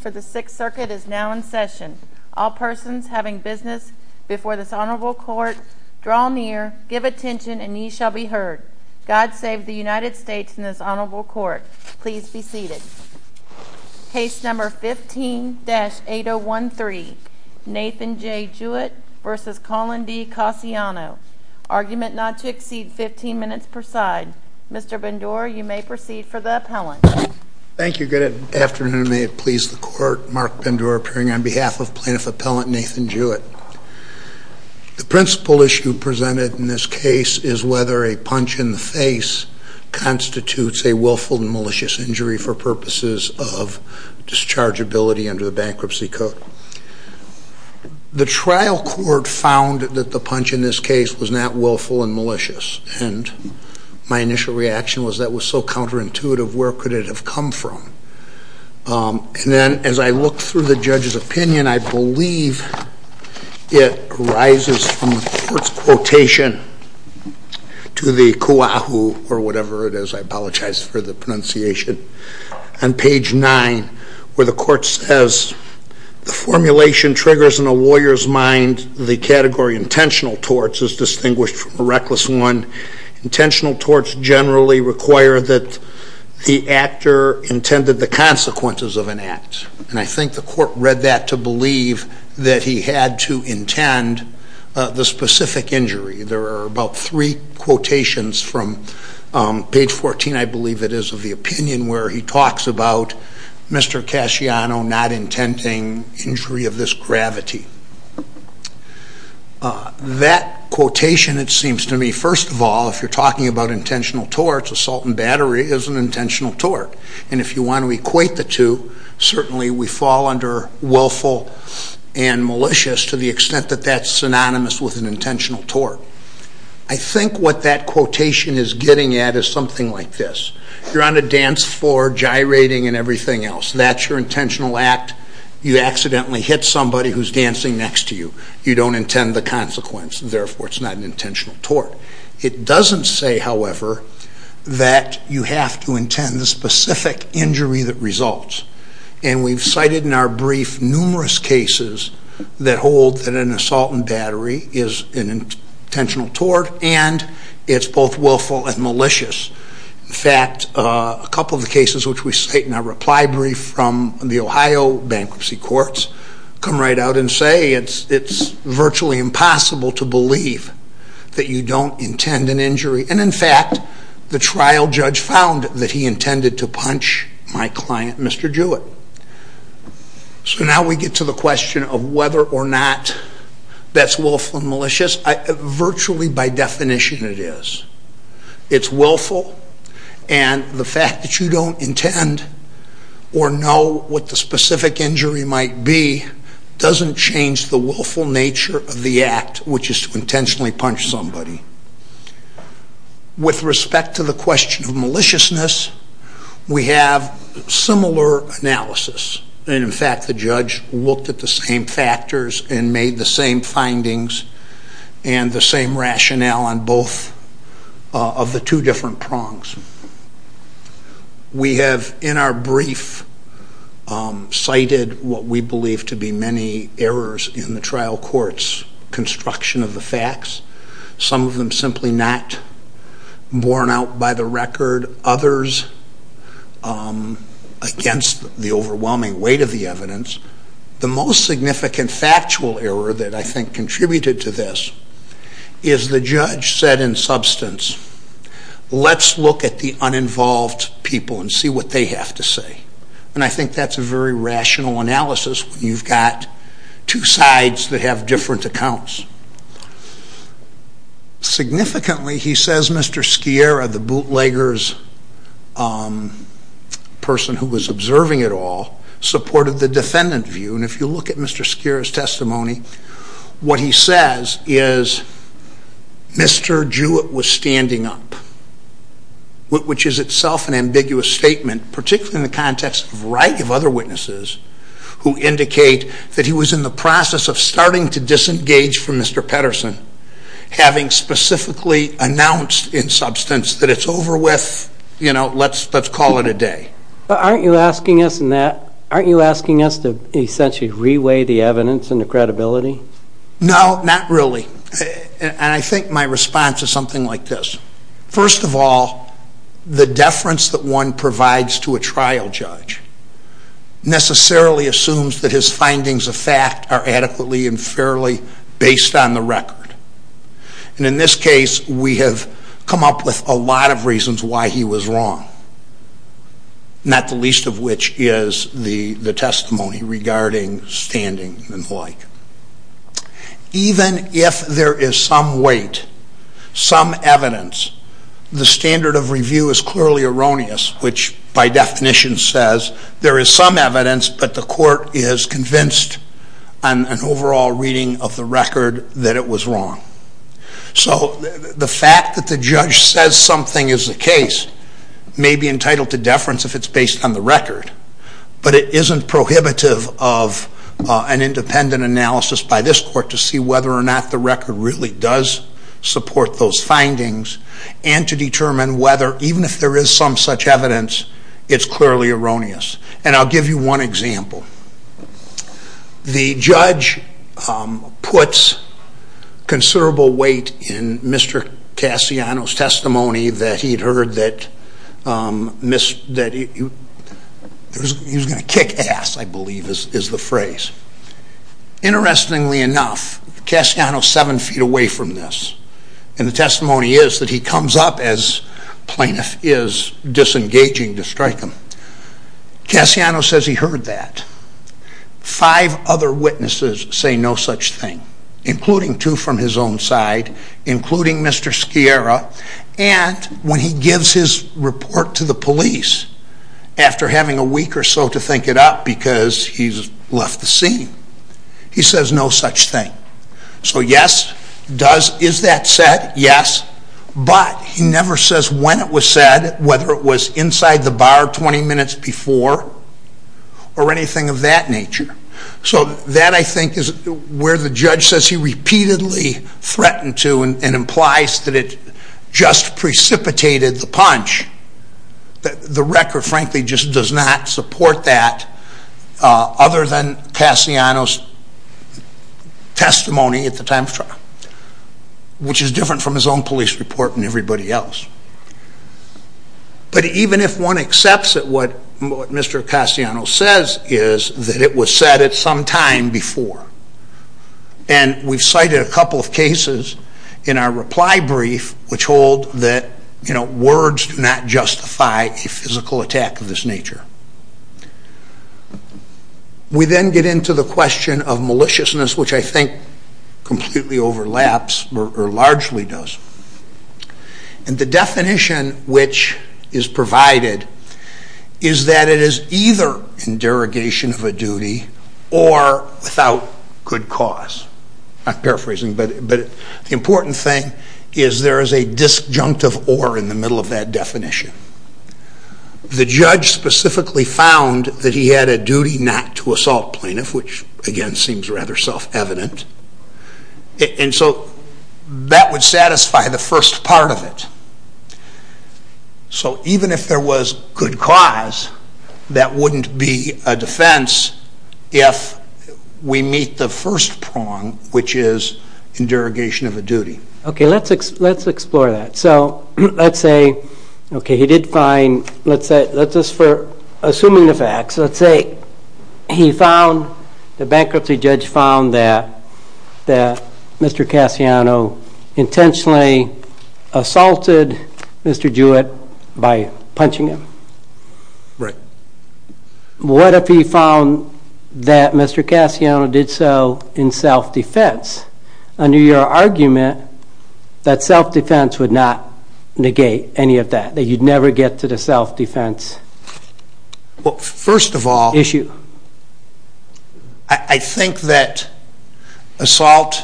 for the Sixth Circuit is now in session. All persons having business before this honorable court, draw near, give attention, and ye shall be heard. God save the United States in this honorable court. Please be seated. Case number 15-8013, Nathan J. Jewett versus Colin D. Casciano. Argument not to exceed 15 minutes per side. Mr. Bendure, you may proceed for the appellant. Thank you. Good afternoon. May it please the court. Mark Bendure appearing on behalf of plaintiff appellant Nathan Jewett. The principal issue presented in this case is whether a punch in the face constitutes a willful and malicious injury for purposes of dischargeability under the bankruptcy code. The trial court found that the punch in this case was not willful and malicious. And my initial reaction was that was so counterintuitive, where could it have come from? And then as I looked through the judge's opinion, I believe it arises from the court's quotation to the Kuahu or whatever it is, I apologize for the pronunciation, on page nine, where the court says, the formulation triggers in a lawyer's mind the category intentional torts is distinguished from a reckless one. Intentional torts generally require that the actor intended the consequences of an act. And I think the court read that to believe that he had to intend the specific injury. There are about three quotations from page 14, I believe it is, of the opinion where he talks about Mr. Casciano not intending injury of gravity. That quotation, it seems to me, first of all, if you're talking about intentional torts, assault and battery is an intentional tort. And if you want to equate the two, certainly we fall under willful and malicious to the extent that that's synonymous with an intentional tort. I think what that quotation is getting at is something like this. You're on a dance floor, gyrating and everything else. That's your intentional act. You accidentally hit somebody who's dancing next to you. You don't intend the consequence. Therefore, it's not an intentional tort. It doesn't say, however, that you have to intend the specific injury that results. And we've cited in our brief numerous cases that hold that an assault and battery is an intentional tort, and it's both willful and malicious. In fact, a couple of the cases which we cite in our reply brief from the Ohio bankruptcy courts come right out and say it's virtually impossible to believe that you don't intend an injury. And in fact, the trial judge found that he intended to punch my client, Mr. Jewett. So now we get to the question of whether or not that's willful and by definition it is. It's willful, and the fact that you don't intend or know what the specific injury might be doesn't change the willful nature of the act, which is to intentionally punch somebody. With respect to the question of maliciousness, we have similar analysis. And in fact, we looked at the same factors and made the same findings and the same rationale on both of the two different prongs. We have in our brief cited what we believe to be many errors in the trial court's construction of the facts. Some of them simply not borne out by the record. Others against the most significant factual error that I think contributed to this is the judge said in substance, let's look at the uninvolved people and see what they have to say. And I think that's a very rational analysis when you've got two sides that have different accounts. Significantly, he says Mr. Scierra, the bootlegger's person who was observing it all, supported the defendant view. And if you look at Mr. Scierra's testimony, what he says is Mr. Jewett was standing up, which is itself an ambiguous statement, particularly in the context of a variety of other witnesses who indicate that he was in the process of starting to disengage from Mr. Petterson, having specifically announced in substance that it's over with, you know, let's call it a day. But aren't you asking us to essentially re-weigh the evidence and the credibility? No, not really. And I think my response is something like this. First of all, the deference that one provides to a trial judge necessarily assumes that his findings of fact are adequately and fairly based on the record. And in this not the least of which is the testimony regarding standing and the like. Even if there is some weight, some evidence, the standard of review is clearly erroneous, which by definition says there is some evidence, but the court is convinced on an overall reading of the record that it was wrong. So the fact that the judge says something is the it's based on the record, but it isn't prohibitive of an independent analysis by this court to see whether or not the record really does support those findings and to determine whether, even if there is some such evidence, it's clearly erroneous. And I'll give you one example. The judge puts considerable weight in Mr. Cassiano's testimony that he had heard that he was going to kick ass, I believe is the phrase. Interestingly enough, Cassiano is 7 feet away from this, and the testimony is that he comes up as plaintiff is disengaging to strike him. Cassiano says he heard that. Five other witnesses say no such thing, including two from his own side, including Mr. Sciarra, and when he gives his report to the police after having a week or so to think it up because he's left the scene, he says no such thing. So yes, is that said? Yes. But he never says when it was said, whether it was inside the bar 20 minutes before or anything of that nature. So that, I think, is where the judge says he repeatedly threatened to and implies that it just precipitated the punch. The record, frankly, just does not support that other than testimony at the time of trial, which is different from his own police report and everybody else. But even if one accepts that what Mr. Cassiano says is that it was said at some time before, and we've cited a couple of cases in our reply brief which hold that words do not completely overlaps or largely does. And the definition which is provided is that it is either in derogation of a duty or without good cause. I'm paraphrasing, but the important thing is there is a disjunctive or in the middle of that definition. The judge specifically found that he had a assault plaintiff, which again seems rather self-evident. And so that would satisfy the first part of it. So even if there was good cause, that wouldn't be a defense if we meet the first prong, which is in derogation of a duty. Okay, let's explore that. So let's say, okay, he did find, let's say, assuming the facts, let's say he found, the bankruptcy judge found that Mr. Cassiano did so in self-defense. Under your argument that self-defense would not negate any of that, that you'd never get to the self-defense issue? Well, first of all, I think that assault,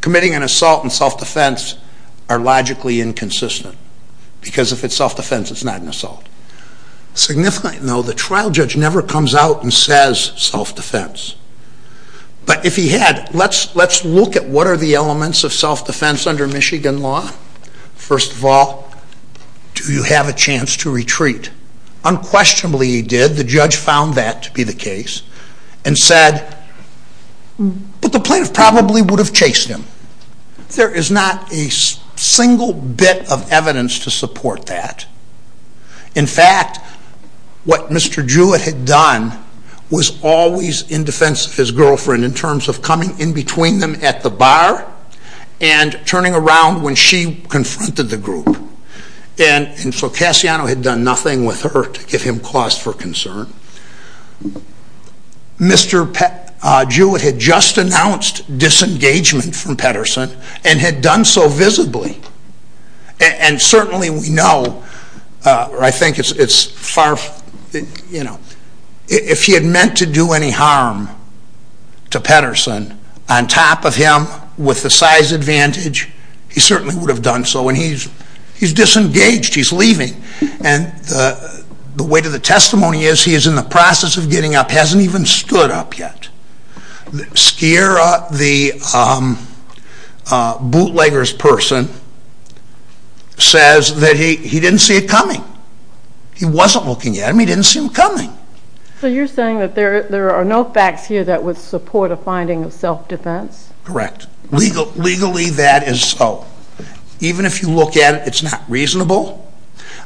committing an assault in self-defense are logically inconsistent. Because if it's self-defense, it's not an assault. Significantly, though, the trial judge never comes out and says self-defense. But if he had, let's look at what are the elements of self-defense under Michigan law. First of all, do you have a chance to retreat? Unquestionably he did. The judge found that to be the case and said, but the plaintiff probably would have chased him. There is not a single bit of evidence to support that. In fact, what Mr. Jewett had done was always in defense of his girlfriend in terms of coming in between them at the bar and turning around when she confronted the group. And so Cassiano had done nothing with her to give him cause for concern. Mr. Jewett had just announced disengagement from Petterson and had done so visibly. And certainly we know, or I think it's far, you know, if he had meant to do any harm to Petterson on top of him with the size advantage, he certainly would have done so. And he's disengaged. He's leaving. And the weight of the testimony is he is in the process of getting up, hasn't even stood up yet. Skira, the bootleggers person, says that he didn't see it coming. He wasn't looking at him, he didn't see him coming. So you're saying that there are no facts here that would support a finding of self-defense? Correct. Legally that is so. Even if you look at it, it's not reasonable.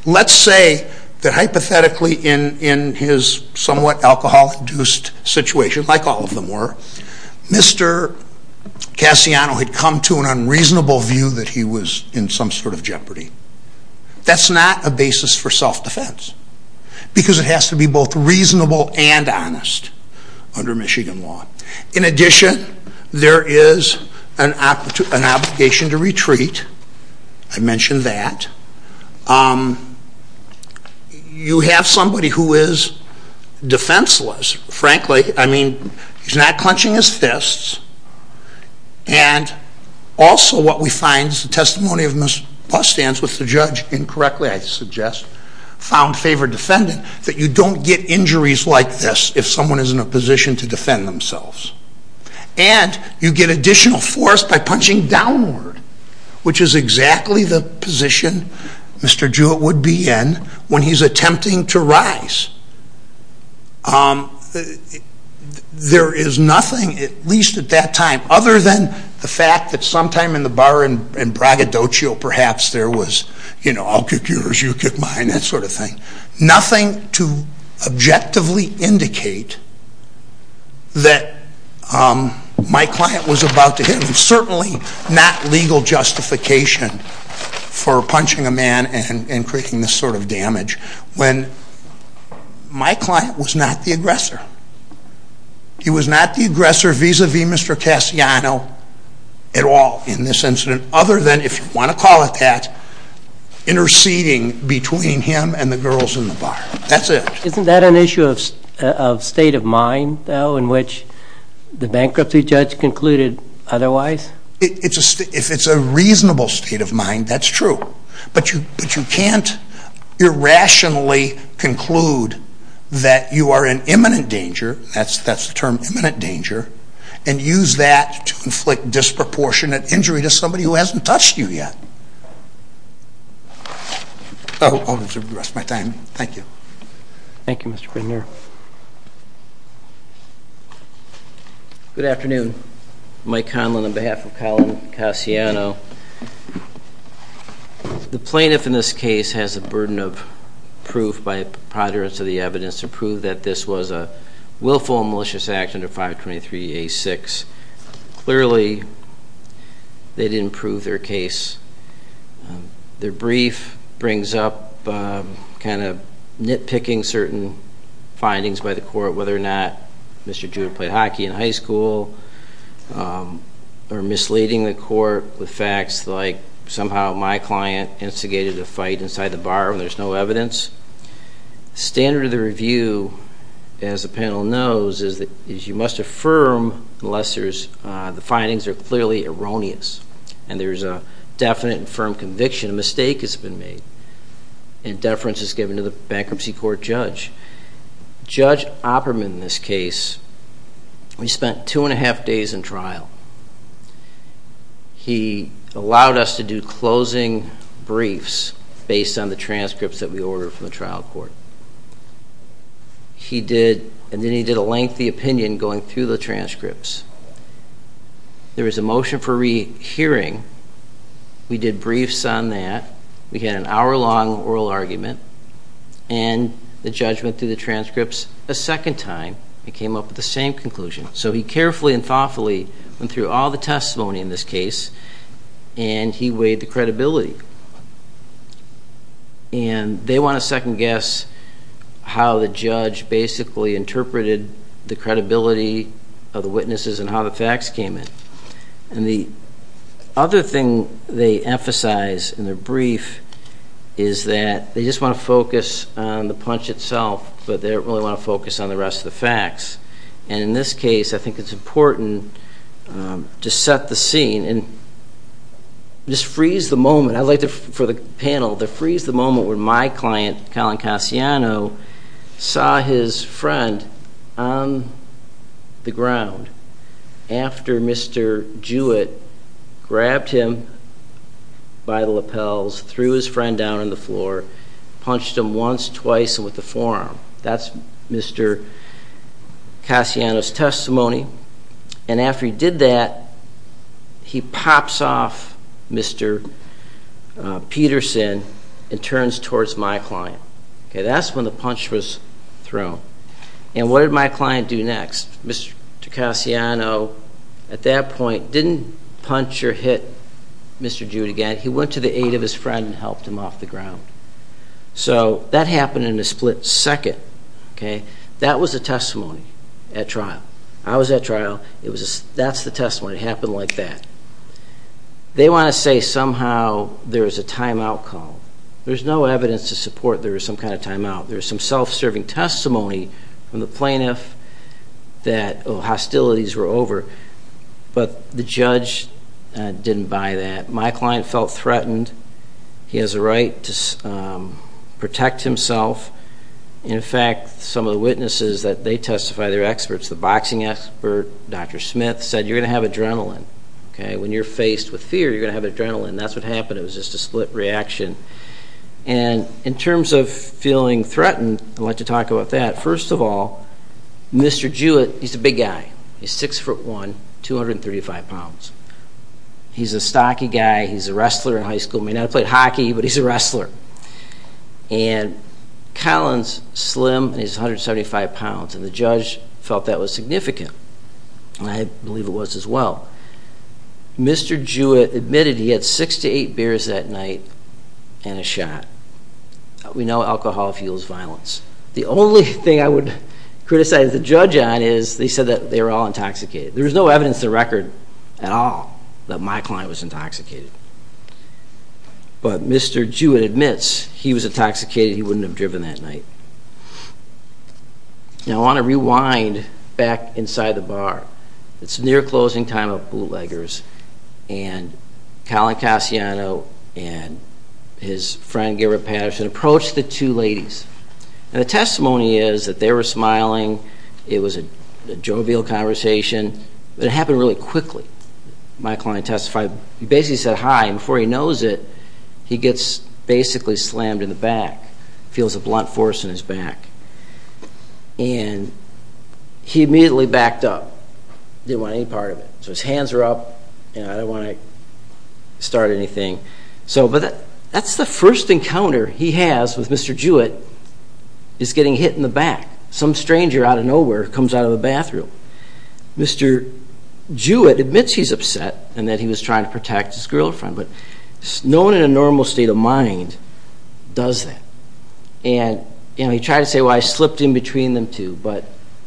Let's say that hypothetically in his somewhat alcohol-induced situation, like all of them were, Mr. Cassiano had come to an unreasonable view that he was in some sort of jeopardy. That's not a basis for self-defense. Because it has to be both reasonable and honest under Michigan law. In addition, there is an obligation to retreat. I mentioned that. You have somebody who is defenseless, frankly. I mean, he's not clenching his fists. And also what we find is the testimony of Ms. Bostand, which the judge incorrectly, I suggest, found favored defendant, that you don't get injuries like this if someone is in a position to defend themselves. And you get additional force by punching downward, which is exactly the position Mr. Jewett would be in when he's attempting to rise. There is nothing, at least at that time, other than the fact that sometime in the bar in Bragadocio, perhaps, there was, you know, I'll kick yours, you kick mine, that sort of thing. Nothing to objectively indicate that my client was about to hit him. Certainly not legal justification for punching a man and creating this sort of damage when my client was not the aggressor. He was not the aggressor vis-a-vis Mr. Cassiano at all in this incident, other than, if you want to call it that, interceding between him and the girls in the bar. That's it. Isn't that an issue of state of mind, though, in which the bankruptcy judge concluded otherwise? If it's a reasonable state of mind, that's true. But you can't irrationally conclude that you are in imminent danger, that's the term, imminent danger, and use that to inflict disproportionate injury to somebody who hasn't touched you yet. Oh, I'll reserve the rest of my time. Thank you. Thank you, Mr. Prenier. Good afternoon. Mike Conlin on behalf of Colin Cassiano. The plaintiff in this case has the burden of proof by preponderance of the evidence to prove that this was a willful and malicious act under 523A6. Clearly, they didn't prove their case. Their brief brings up kind of nitpicking certain findings by the court, whether or not Mr. Judah played hockey in high school, or misleading the court with facts like somehow my client instigated a fight inside the bar when there's no evidence. The standard of the review, as the panel knows, is that you must affirm unless the findings are clearly erroneous and there's a definite and firm conviction a mistake has been made and deference is given to the bankruptcy court judge. Judge Opperman in this case, we spent two and a half days in trial. He allowed us to do closing briefs based on the transcripts that we ordered from the trial court. He did, and then he did a lengthy opinion going through the transcripts. There was a motion for rehearing. We did briefs on that. We had an hour-long oral argument, and the judge went through the transcripts a second time and came up with the same conclusion. So he carefully and thoughtfully went through all the testimony in this case, and he weighed the credibility. And they want to second guess how the judge basically interpreted the credibility of the witnesses and how the facts came in. And the other thing they emphasize in their brief is that they just want to focus on the punch itself, but they don't really want to focus on the rest of the facts. And in this case, I think it's important to set the scene and just freeze the moment. I'd like for the panel to freeze the moment where my client, Colin Cassiano, saw his friend on the ground after Mr. Jewett grabbed him by the lapels, threw his friend down on the floor, punched him once, twice, and with the forearm. That's Mr. Cassiano's testimony. And after he did that, he pops off Mr. Peterson and turns towards my client. That's when the punch was thrown. And what did my client do next? Mr. Cassiano, at that point, didn't punch or hit Mr. Jewett again. He went to the aid of his friend and helped him off the ground. So that happened in a split second. That was the testimony at trial. I was at trial. That's the testimony. It happened like that. They want to say somehow there was a timeout call. There's no evidence to support there was some kind of timeout. There's some self-serving testimony from the plaintiff that hostilities were over, but the judge didn't buy that. My client felt threatened. He has a right to protect himself. In fact, some of the witnesses that they testify, their experts, the boxing expert, Dr. Smith, said you're going to have adrenaline. When you're faced with fear, you're going to have adrenaline. That's what happened. It was just a split reaction. And in terms of feeling threatened, I'd like to talk about that. First of all, Mr. Jewett, he's a big guy. He's 6'1", 235 pounds. He's a stocky guy. He's a wrestler in high school. He may not have played hockey, but he's a wrestler. And Collin's slim, and he's 175 pounds, and the judge felt that was significant. I believe it was as well. Mr. Jewett admitted he had six to eight beers that night and a shot. We know alcohol fuels violence. The only thing I would criticize the judge on is they said that they were all intoxicated. There is no evidence in the record at all that my client was intoxicated. But Mr. Jewett admits he was intoxicated. He wouldn't have driven that night. Now, I want to rewind back inside the bar. It's near closing time of bootleggers, and Collin Cassiano and his friend Garrett Patterson approached the two ladies. And the testimony is that they were smiling. It was a jovial conversation. But it happened really quickly. My client testified. He basically said hi, and before he knows it, he gets basically slammed in the back. He feels a blunt force in his back. And he immediately backed up. He didn't want any part of it. So his hands are up, and I don't want to start anything. But that's the first encounter he has with Mr. Jewett is getting hit in the back. Some stranger out of nowhere comes out of the bathroom. Mr. Jewett admits he's upset and that he was trying to protect his girlfriend, but no one in a normal state of mind does that. And he tried to say, well, I slipped in between them two, but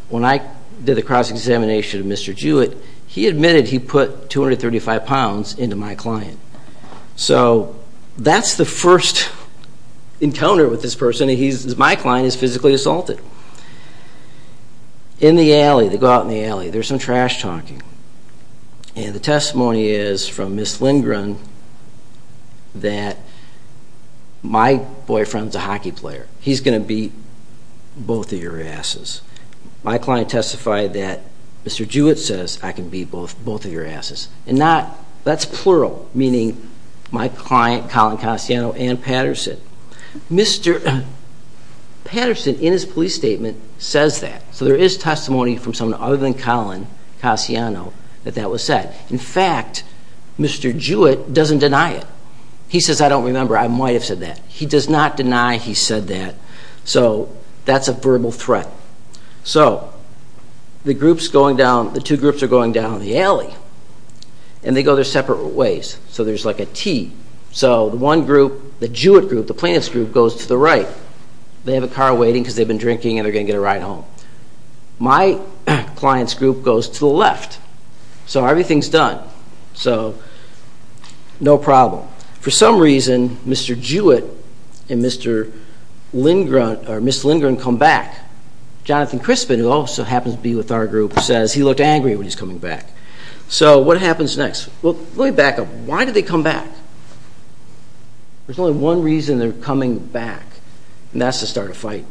when I did the cross-examination of Mr. Jewett, he admitted he put 235 pounds into my client. So that's the first encounter with this person. My client is physically assaulted. In the alley, they go out in the alley. There's some trash talking. And the testimony is from Ms. Lindgren that my boyfriend's a hockey player. He's going to beat both of your asses. My client testified that Mr. Jewett says, I can beat both of your asses. And that's plural, meaning my client, Colin Cassiano, and Patterson. Mr. Patterson, in his police statement, says that. So there is testimony from someone other than Colin Cassiano that that was said. In fact, Mr. Jewett doesn't deny it. He says, I don't remember. I might have said that. He does not deny he said that. So that's a verbal threat. So the two groups are going down the alley. And they go their separate ways. So there's like a T. So the one group, the Jewett group, the plaintiff's group, goes to the right. They have a car waiting because they've been drinking and they're going to get a ride home. My client's group goes to the left. So everything's done. So no problem. Now, for some reason, Mr. Jewett and Ms. Lindgren come back. Jonathan Crispin, who also happens to be with our group, says he looked angry when he's coming back. So what happens next? Well, let me back up. Why did they come back? There's only one reason they're coming back, and that's to start a fight.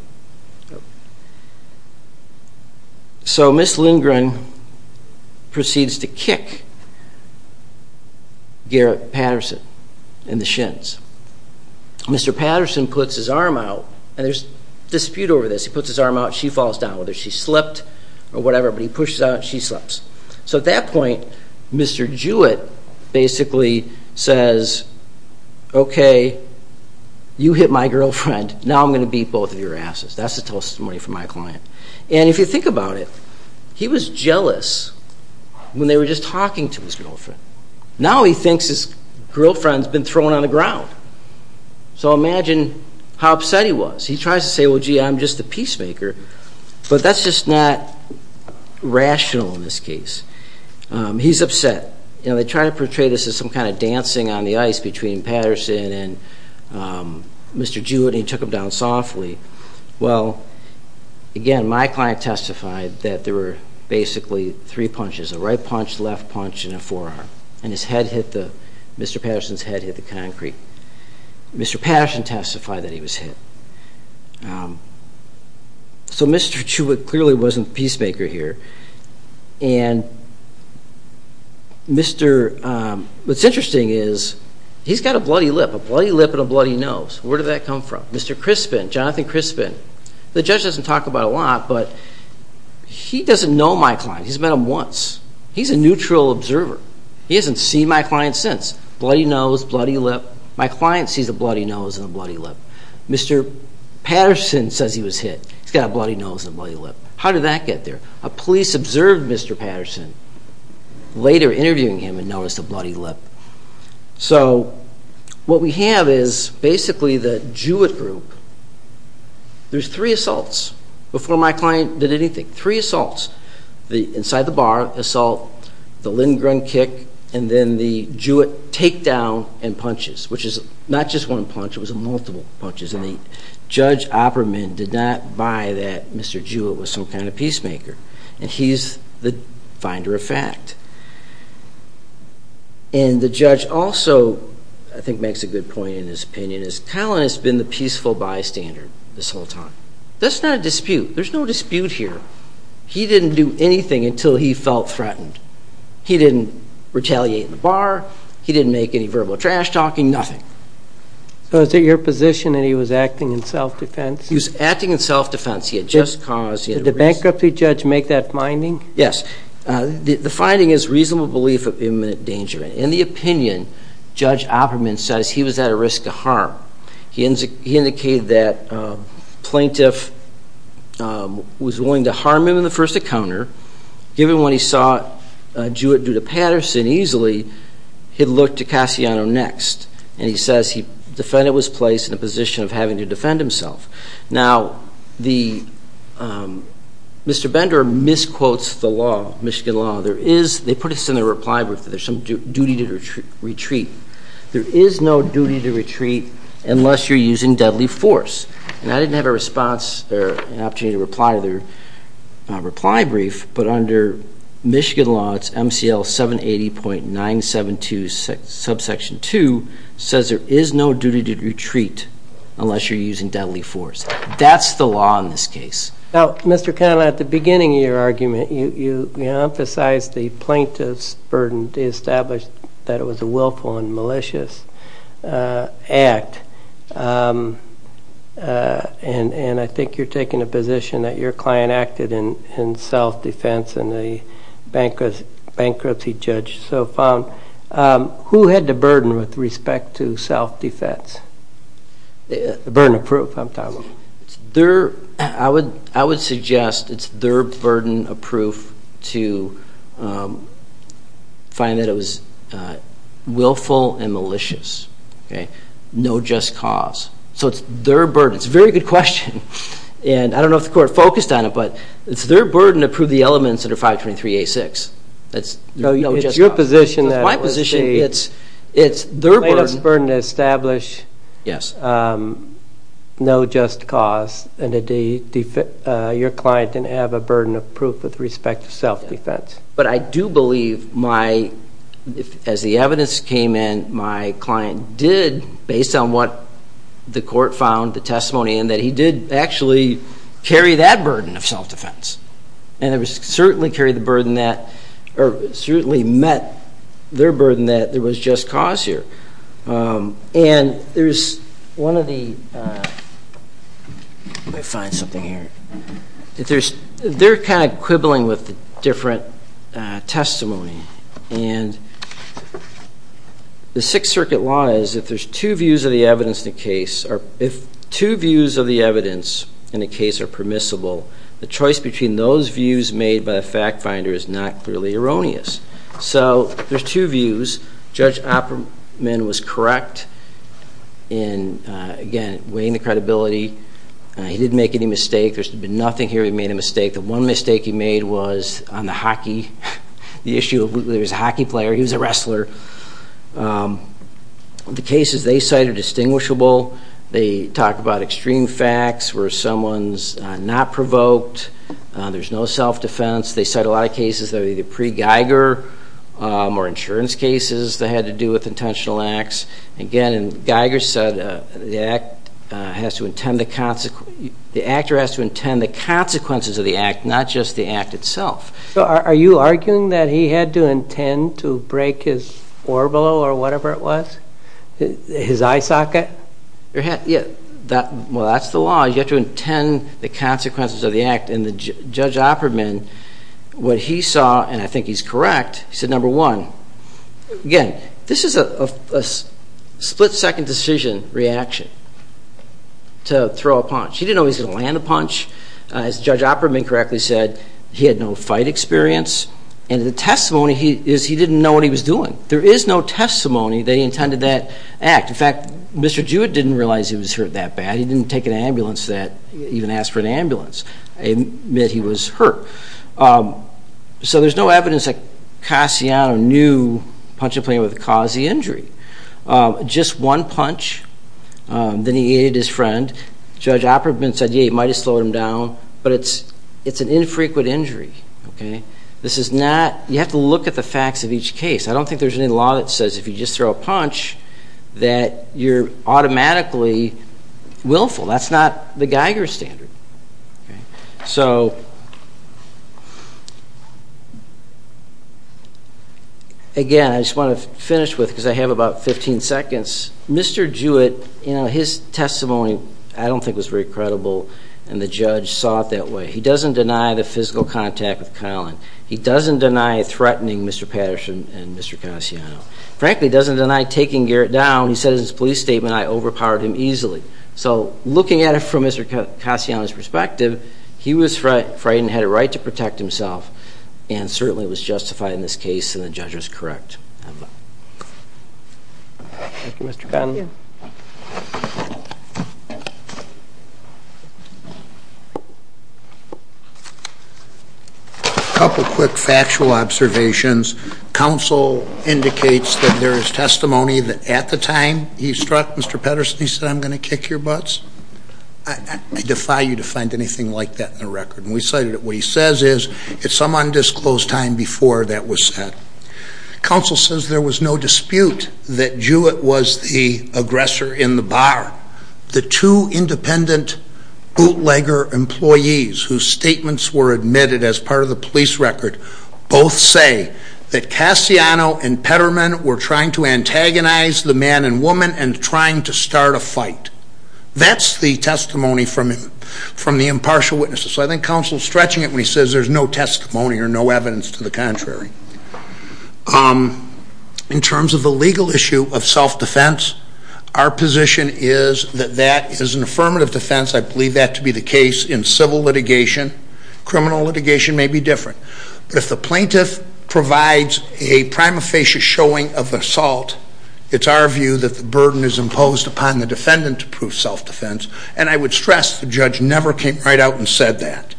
So Ms. Lindgren proceeds to kick Garrett Patterson in the shins. Mr. Patterson puts his arm out, and there's a dispute over this. He puts his arm out and she falls down, whether she slipped or whatever. But he pushes out and she slips. So at that point, Mr. Jewett basically says, okay, you hit my girlfriend, now I'm going to beat both of your asses. That's the testimony from my client. And if you think about it, he was jealous when they were just talking to his girlfriend. Now he thinks his girlfriend's been thrown on the ground. So imagine how upset he was. He tries to say, well, gee, I'm just a peacemaker, but that's just not rational in this case. He's upset. They try to portray this as some kind of dancing on the ice between Patterson and Mr. Jewett, and he took him down softly. Well, again, my client testified that there were basically three punches, a right punch, left punch, and a forearm, and Mr. Patterson's head hit the concrete. Mr. Patterson testified that he was hit. So Mr. Jewett clearly wasn't the peacemaker here. And what's interesting is he's got a bloody lip, a bloody lip and a bloody nose. Where did that come from? Mr. Crispin, Jonathan Crispin, the judge doesn't talk about it a lot, but he doesn't know my client. He's met him once. He's a neutral observer. He hasn't seen my client since. Bloody nose, bloody lip. My client sees a bloody nose and a bloody lip. Mr. Patterson says he was hit. He's got a bloody nose and a bloody lip. How did that get there? A police observed Mr. Patterson, later interviewing him, and noticed a bloody lip. So what we have is basically the Jewett group. There's three assaults before my client did anything, three assaults. The inside-the-bar assault, the Lindgren kick, and then the Jewett takedown and punches, which is not just one punch. It was multiple punches, and Judge Opperman did not buy that Mr. Jewett was some kind of peacemaker, and he's the finder of fact. And the judge also, I think, makes a good point in his opinion, is Colin has been the peaceful bystander this whole time. That's not a dispute. There's no dispute here. He didn't do anything until he felt threatened. He didn't retaliate in the bar. He didn't make any verbal trash-talking, nothing. So is it your position that he was acting in self-defense? He was acting in self-defense. He had just caused a risk. Did the bankruptcy judge make that finding? Yes. The finding is reasonable belief of imminent danger. In the opinion, Judge Opperman says he was at a risk of harm. He indicated that the plaintiff was willing to harm him in the first encounter, given when he saw Jewett do to Patterson easily, he'd look to Cassiano next. And he says the defendant was placed in a position of having to defend himself. Now, Mr. Bender misquotes the law, Michigan law. They put this in their reply brief that there's some duty to retreat. There is no duty to retreat unless you're using deadly force. And I didn't have a response or an opportunity to reply to their reply brief, but under Michigan law, it's MCL 780.972 subsection 2, says there is no duty to retreat unless you're using deadly force. That's the law in this case. Now, Mr. Connell, at the beginning of your argument, you emphasized the plaintiff's burden to establish that it was a willful and malicious act. And I think you're taking a position that your client acted in self-defense and the bankruptcy judge so found. Who had the burden with respect to self-defense? The burden of proof, I'm talking about. I would suggest it's their burden of proof to find that it was willful and malicious. No just cause. So it's their burden. It's a very good question, and I don't know if the court focused on it, but it's their burden to prove the elements under 523A6. It's your position that it was the plaintiff's burden to establish no just cause and your client didn't have a burden of proof with respect to self-defense. But I do believe, as the evidence came in, my client did, based on what the court found, the testimony in, that he did actually carry that burden of self-defense and certainly met their burden that there was just cause here. And there's one of the, let me find something here. They're kind of quibbling with the different testimony, and the Sixth Circuit law is if there's two views of the evidence in a case, if two views of the evidence in a case are permissible, the choice between those views made by a fact finder is not clearly erroneous. So there's two views. Judge Opperman was correct in, again, weighing the credibility. He didn't make any mistake. There should have been nothing here where he made a mistake. The one mistake he made was on the hockey, the issue of whether he was a hockey player. He was a wrestler. The cases they cite are distinguishable. They talk about extreme facts where someone's not provoked. There's no self-defense. They cite a lot of cases that are either pre-Geiger or insurance cases that had to do with intentional acts. Again, Geiger said the actor has to intend the consequences of the act, not just the act itself. So are you arguing that he had to intend to break his orbolo or whatever it was, his eye socket? Well, that's the law. You have to intend the consequences of the act. And Judge Opperman, what he saw, and I think he's correct, he said, number one, again, this is a split-second decision reaction to throw a punch. He didn't know he was going to land a punch. As Judge Opperman correctly said, he had no fight experience. And the testimony is he didn't know what he was doing. There is no testimony that he intended that act. In fact, Mr. Jewett didn't realize he was hurt that bad. He didn't take an ambulance that, even ask for an ambulance, admit he was hurt. So there's no evidence that Cassiano knew punching a player would cause the injury. Just one punch, then he aided his friend. Judge Opperman said, yeah, he might have slowed him down, but it's an infrequent injury. This is not, you have to look at the facts of each case. I don't think there's any law that says if you just throw a punch that you're automatically willful. That's not the Geiger standard. So, again, I just want to finish with, because I have about 15 seconds. Mr. Jewett, you know, his testimony I don't think was very credible, and the judge saw it that way. He doesn't deny threatening Mr. Patterson and Mr. Cassiano. Frankly, he doesn't deny taking Garrett down. He said in his police statement, I overpowered him easily. So looking at it from Mr. Cassiano's perspective, he was frightened, had a right to protect himself, and certainly was justified in this case, and the judge was correct. Thank you, Mr. Connelly. A couple quick factual observations. Counsel indicates that there is testimony that at the time he struck Mr. Patterson, he said, I'm going to kick your butts. I defy you to find anything like that in the record. And we cited it. What he says is it's some undisclosed time before that was said. Counsel says there was no dispute that Jewett was the aggressor in the bar. The two independent bootlegger employees whose statements were admitted as part of the police record both say that Cassiano and Petterman were trying to antagonize the man and woman and trying to start a fight. That's the testimony from the impartial witnesses. So I think Counsel is stretching it when he says there's no testimony or no evidence to the contrary. In terms of the legal issue of self-defense, our position is that that is an affirmative defense. I believe that to be the case in civil litigation. Criminal litigation may be different. But if the plaintiff provides a prima facie showing of assault, it's our view that the burden is imposed upon the defendant to prove self-defense. And I would stress the judge never came right out and said that.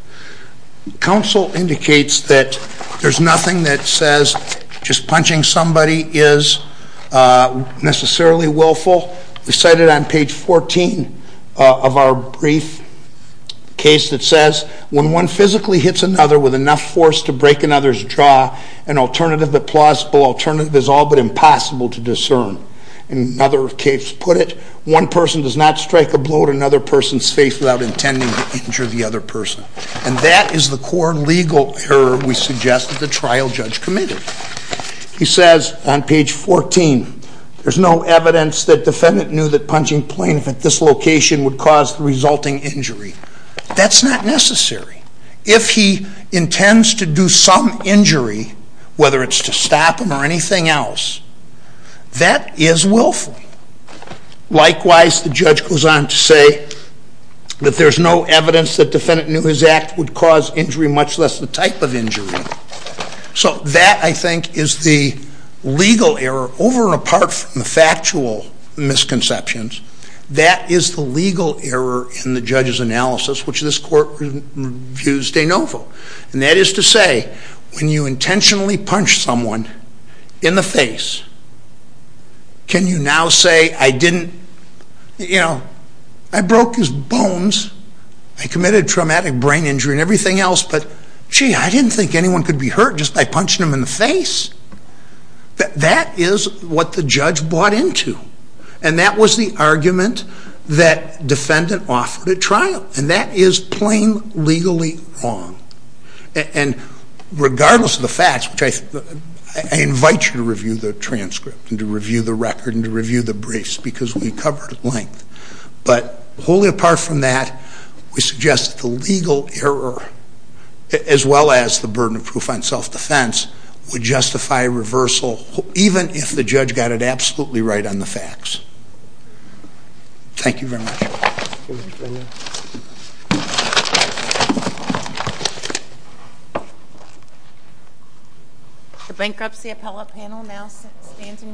Counsel indicates that there's nothing that says just punching somebody is necessarily willful. We cite it on page 14 of our brief case that says, when one physically hits another with enough force to break another's jaw, an alternative, a plausible alternative, is all but impossible to discern. In another case put it, one person does not strike a blow to another person's face without intending to injure the other person. And that is the core legal error we suggest that the trial judge committed. He says on page 14, there's no evidence that defendant knew that punching plaintiff at this location would cause the resulting injury. That's not necessary. If he intends to do some injury, whether it's to stop him or anything else, that is willful. Likewise, the judge goes on to say that there's no evidence that defendant knew his act would cause injury, much less the type of injury. So that, I think, is the legal error. Over and apart from the factual misconceptions, that is the legal error in the judge's analysis, which this court reviews de novo. And that is to say, when you intentionally punch someone in the face, can you now say, I didn't, you know, I broke his bones, I committed traumatic brain injury and everything else, but, gee, I didn't think anyone could be hurt just by punching him in the face. That is what the judge bought into. And that was the argument that defendant offered at trial. And that is plain legally wrong. And regardless of the facts, which I invite you to review the transcript and to review the record and to review the briefs, because we covered it at length, but wholly apart from that, we suggest that the legal error, as well as the burden of proof on self-defense, would justify reversal, Thank you very much. The bankruptcy appellate panel now stands in recess.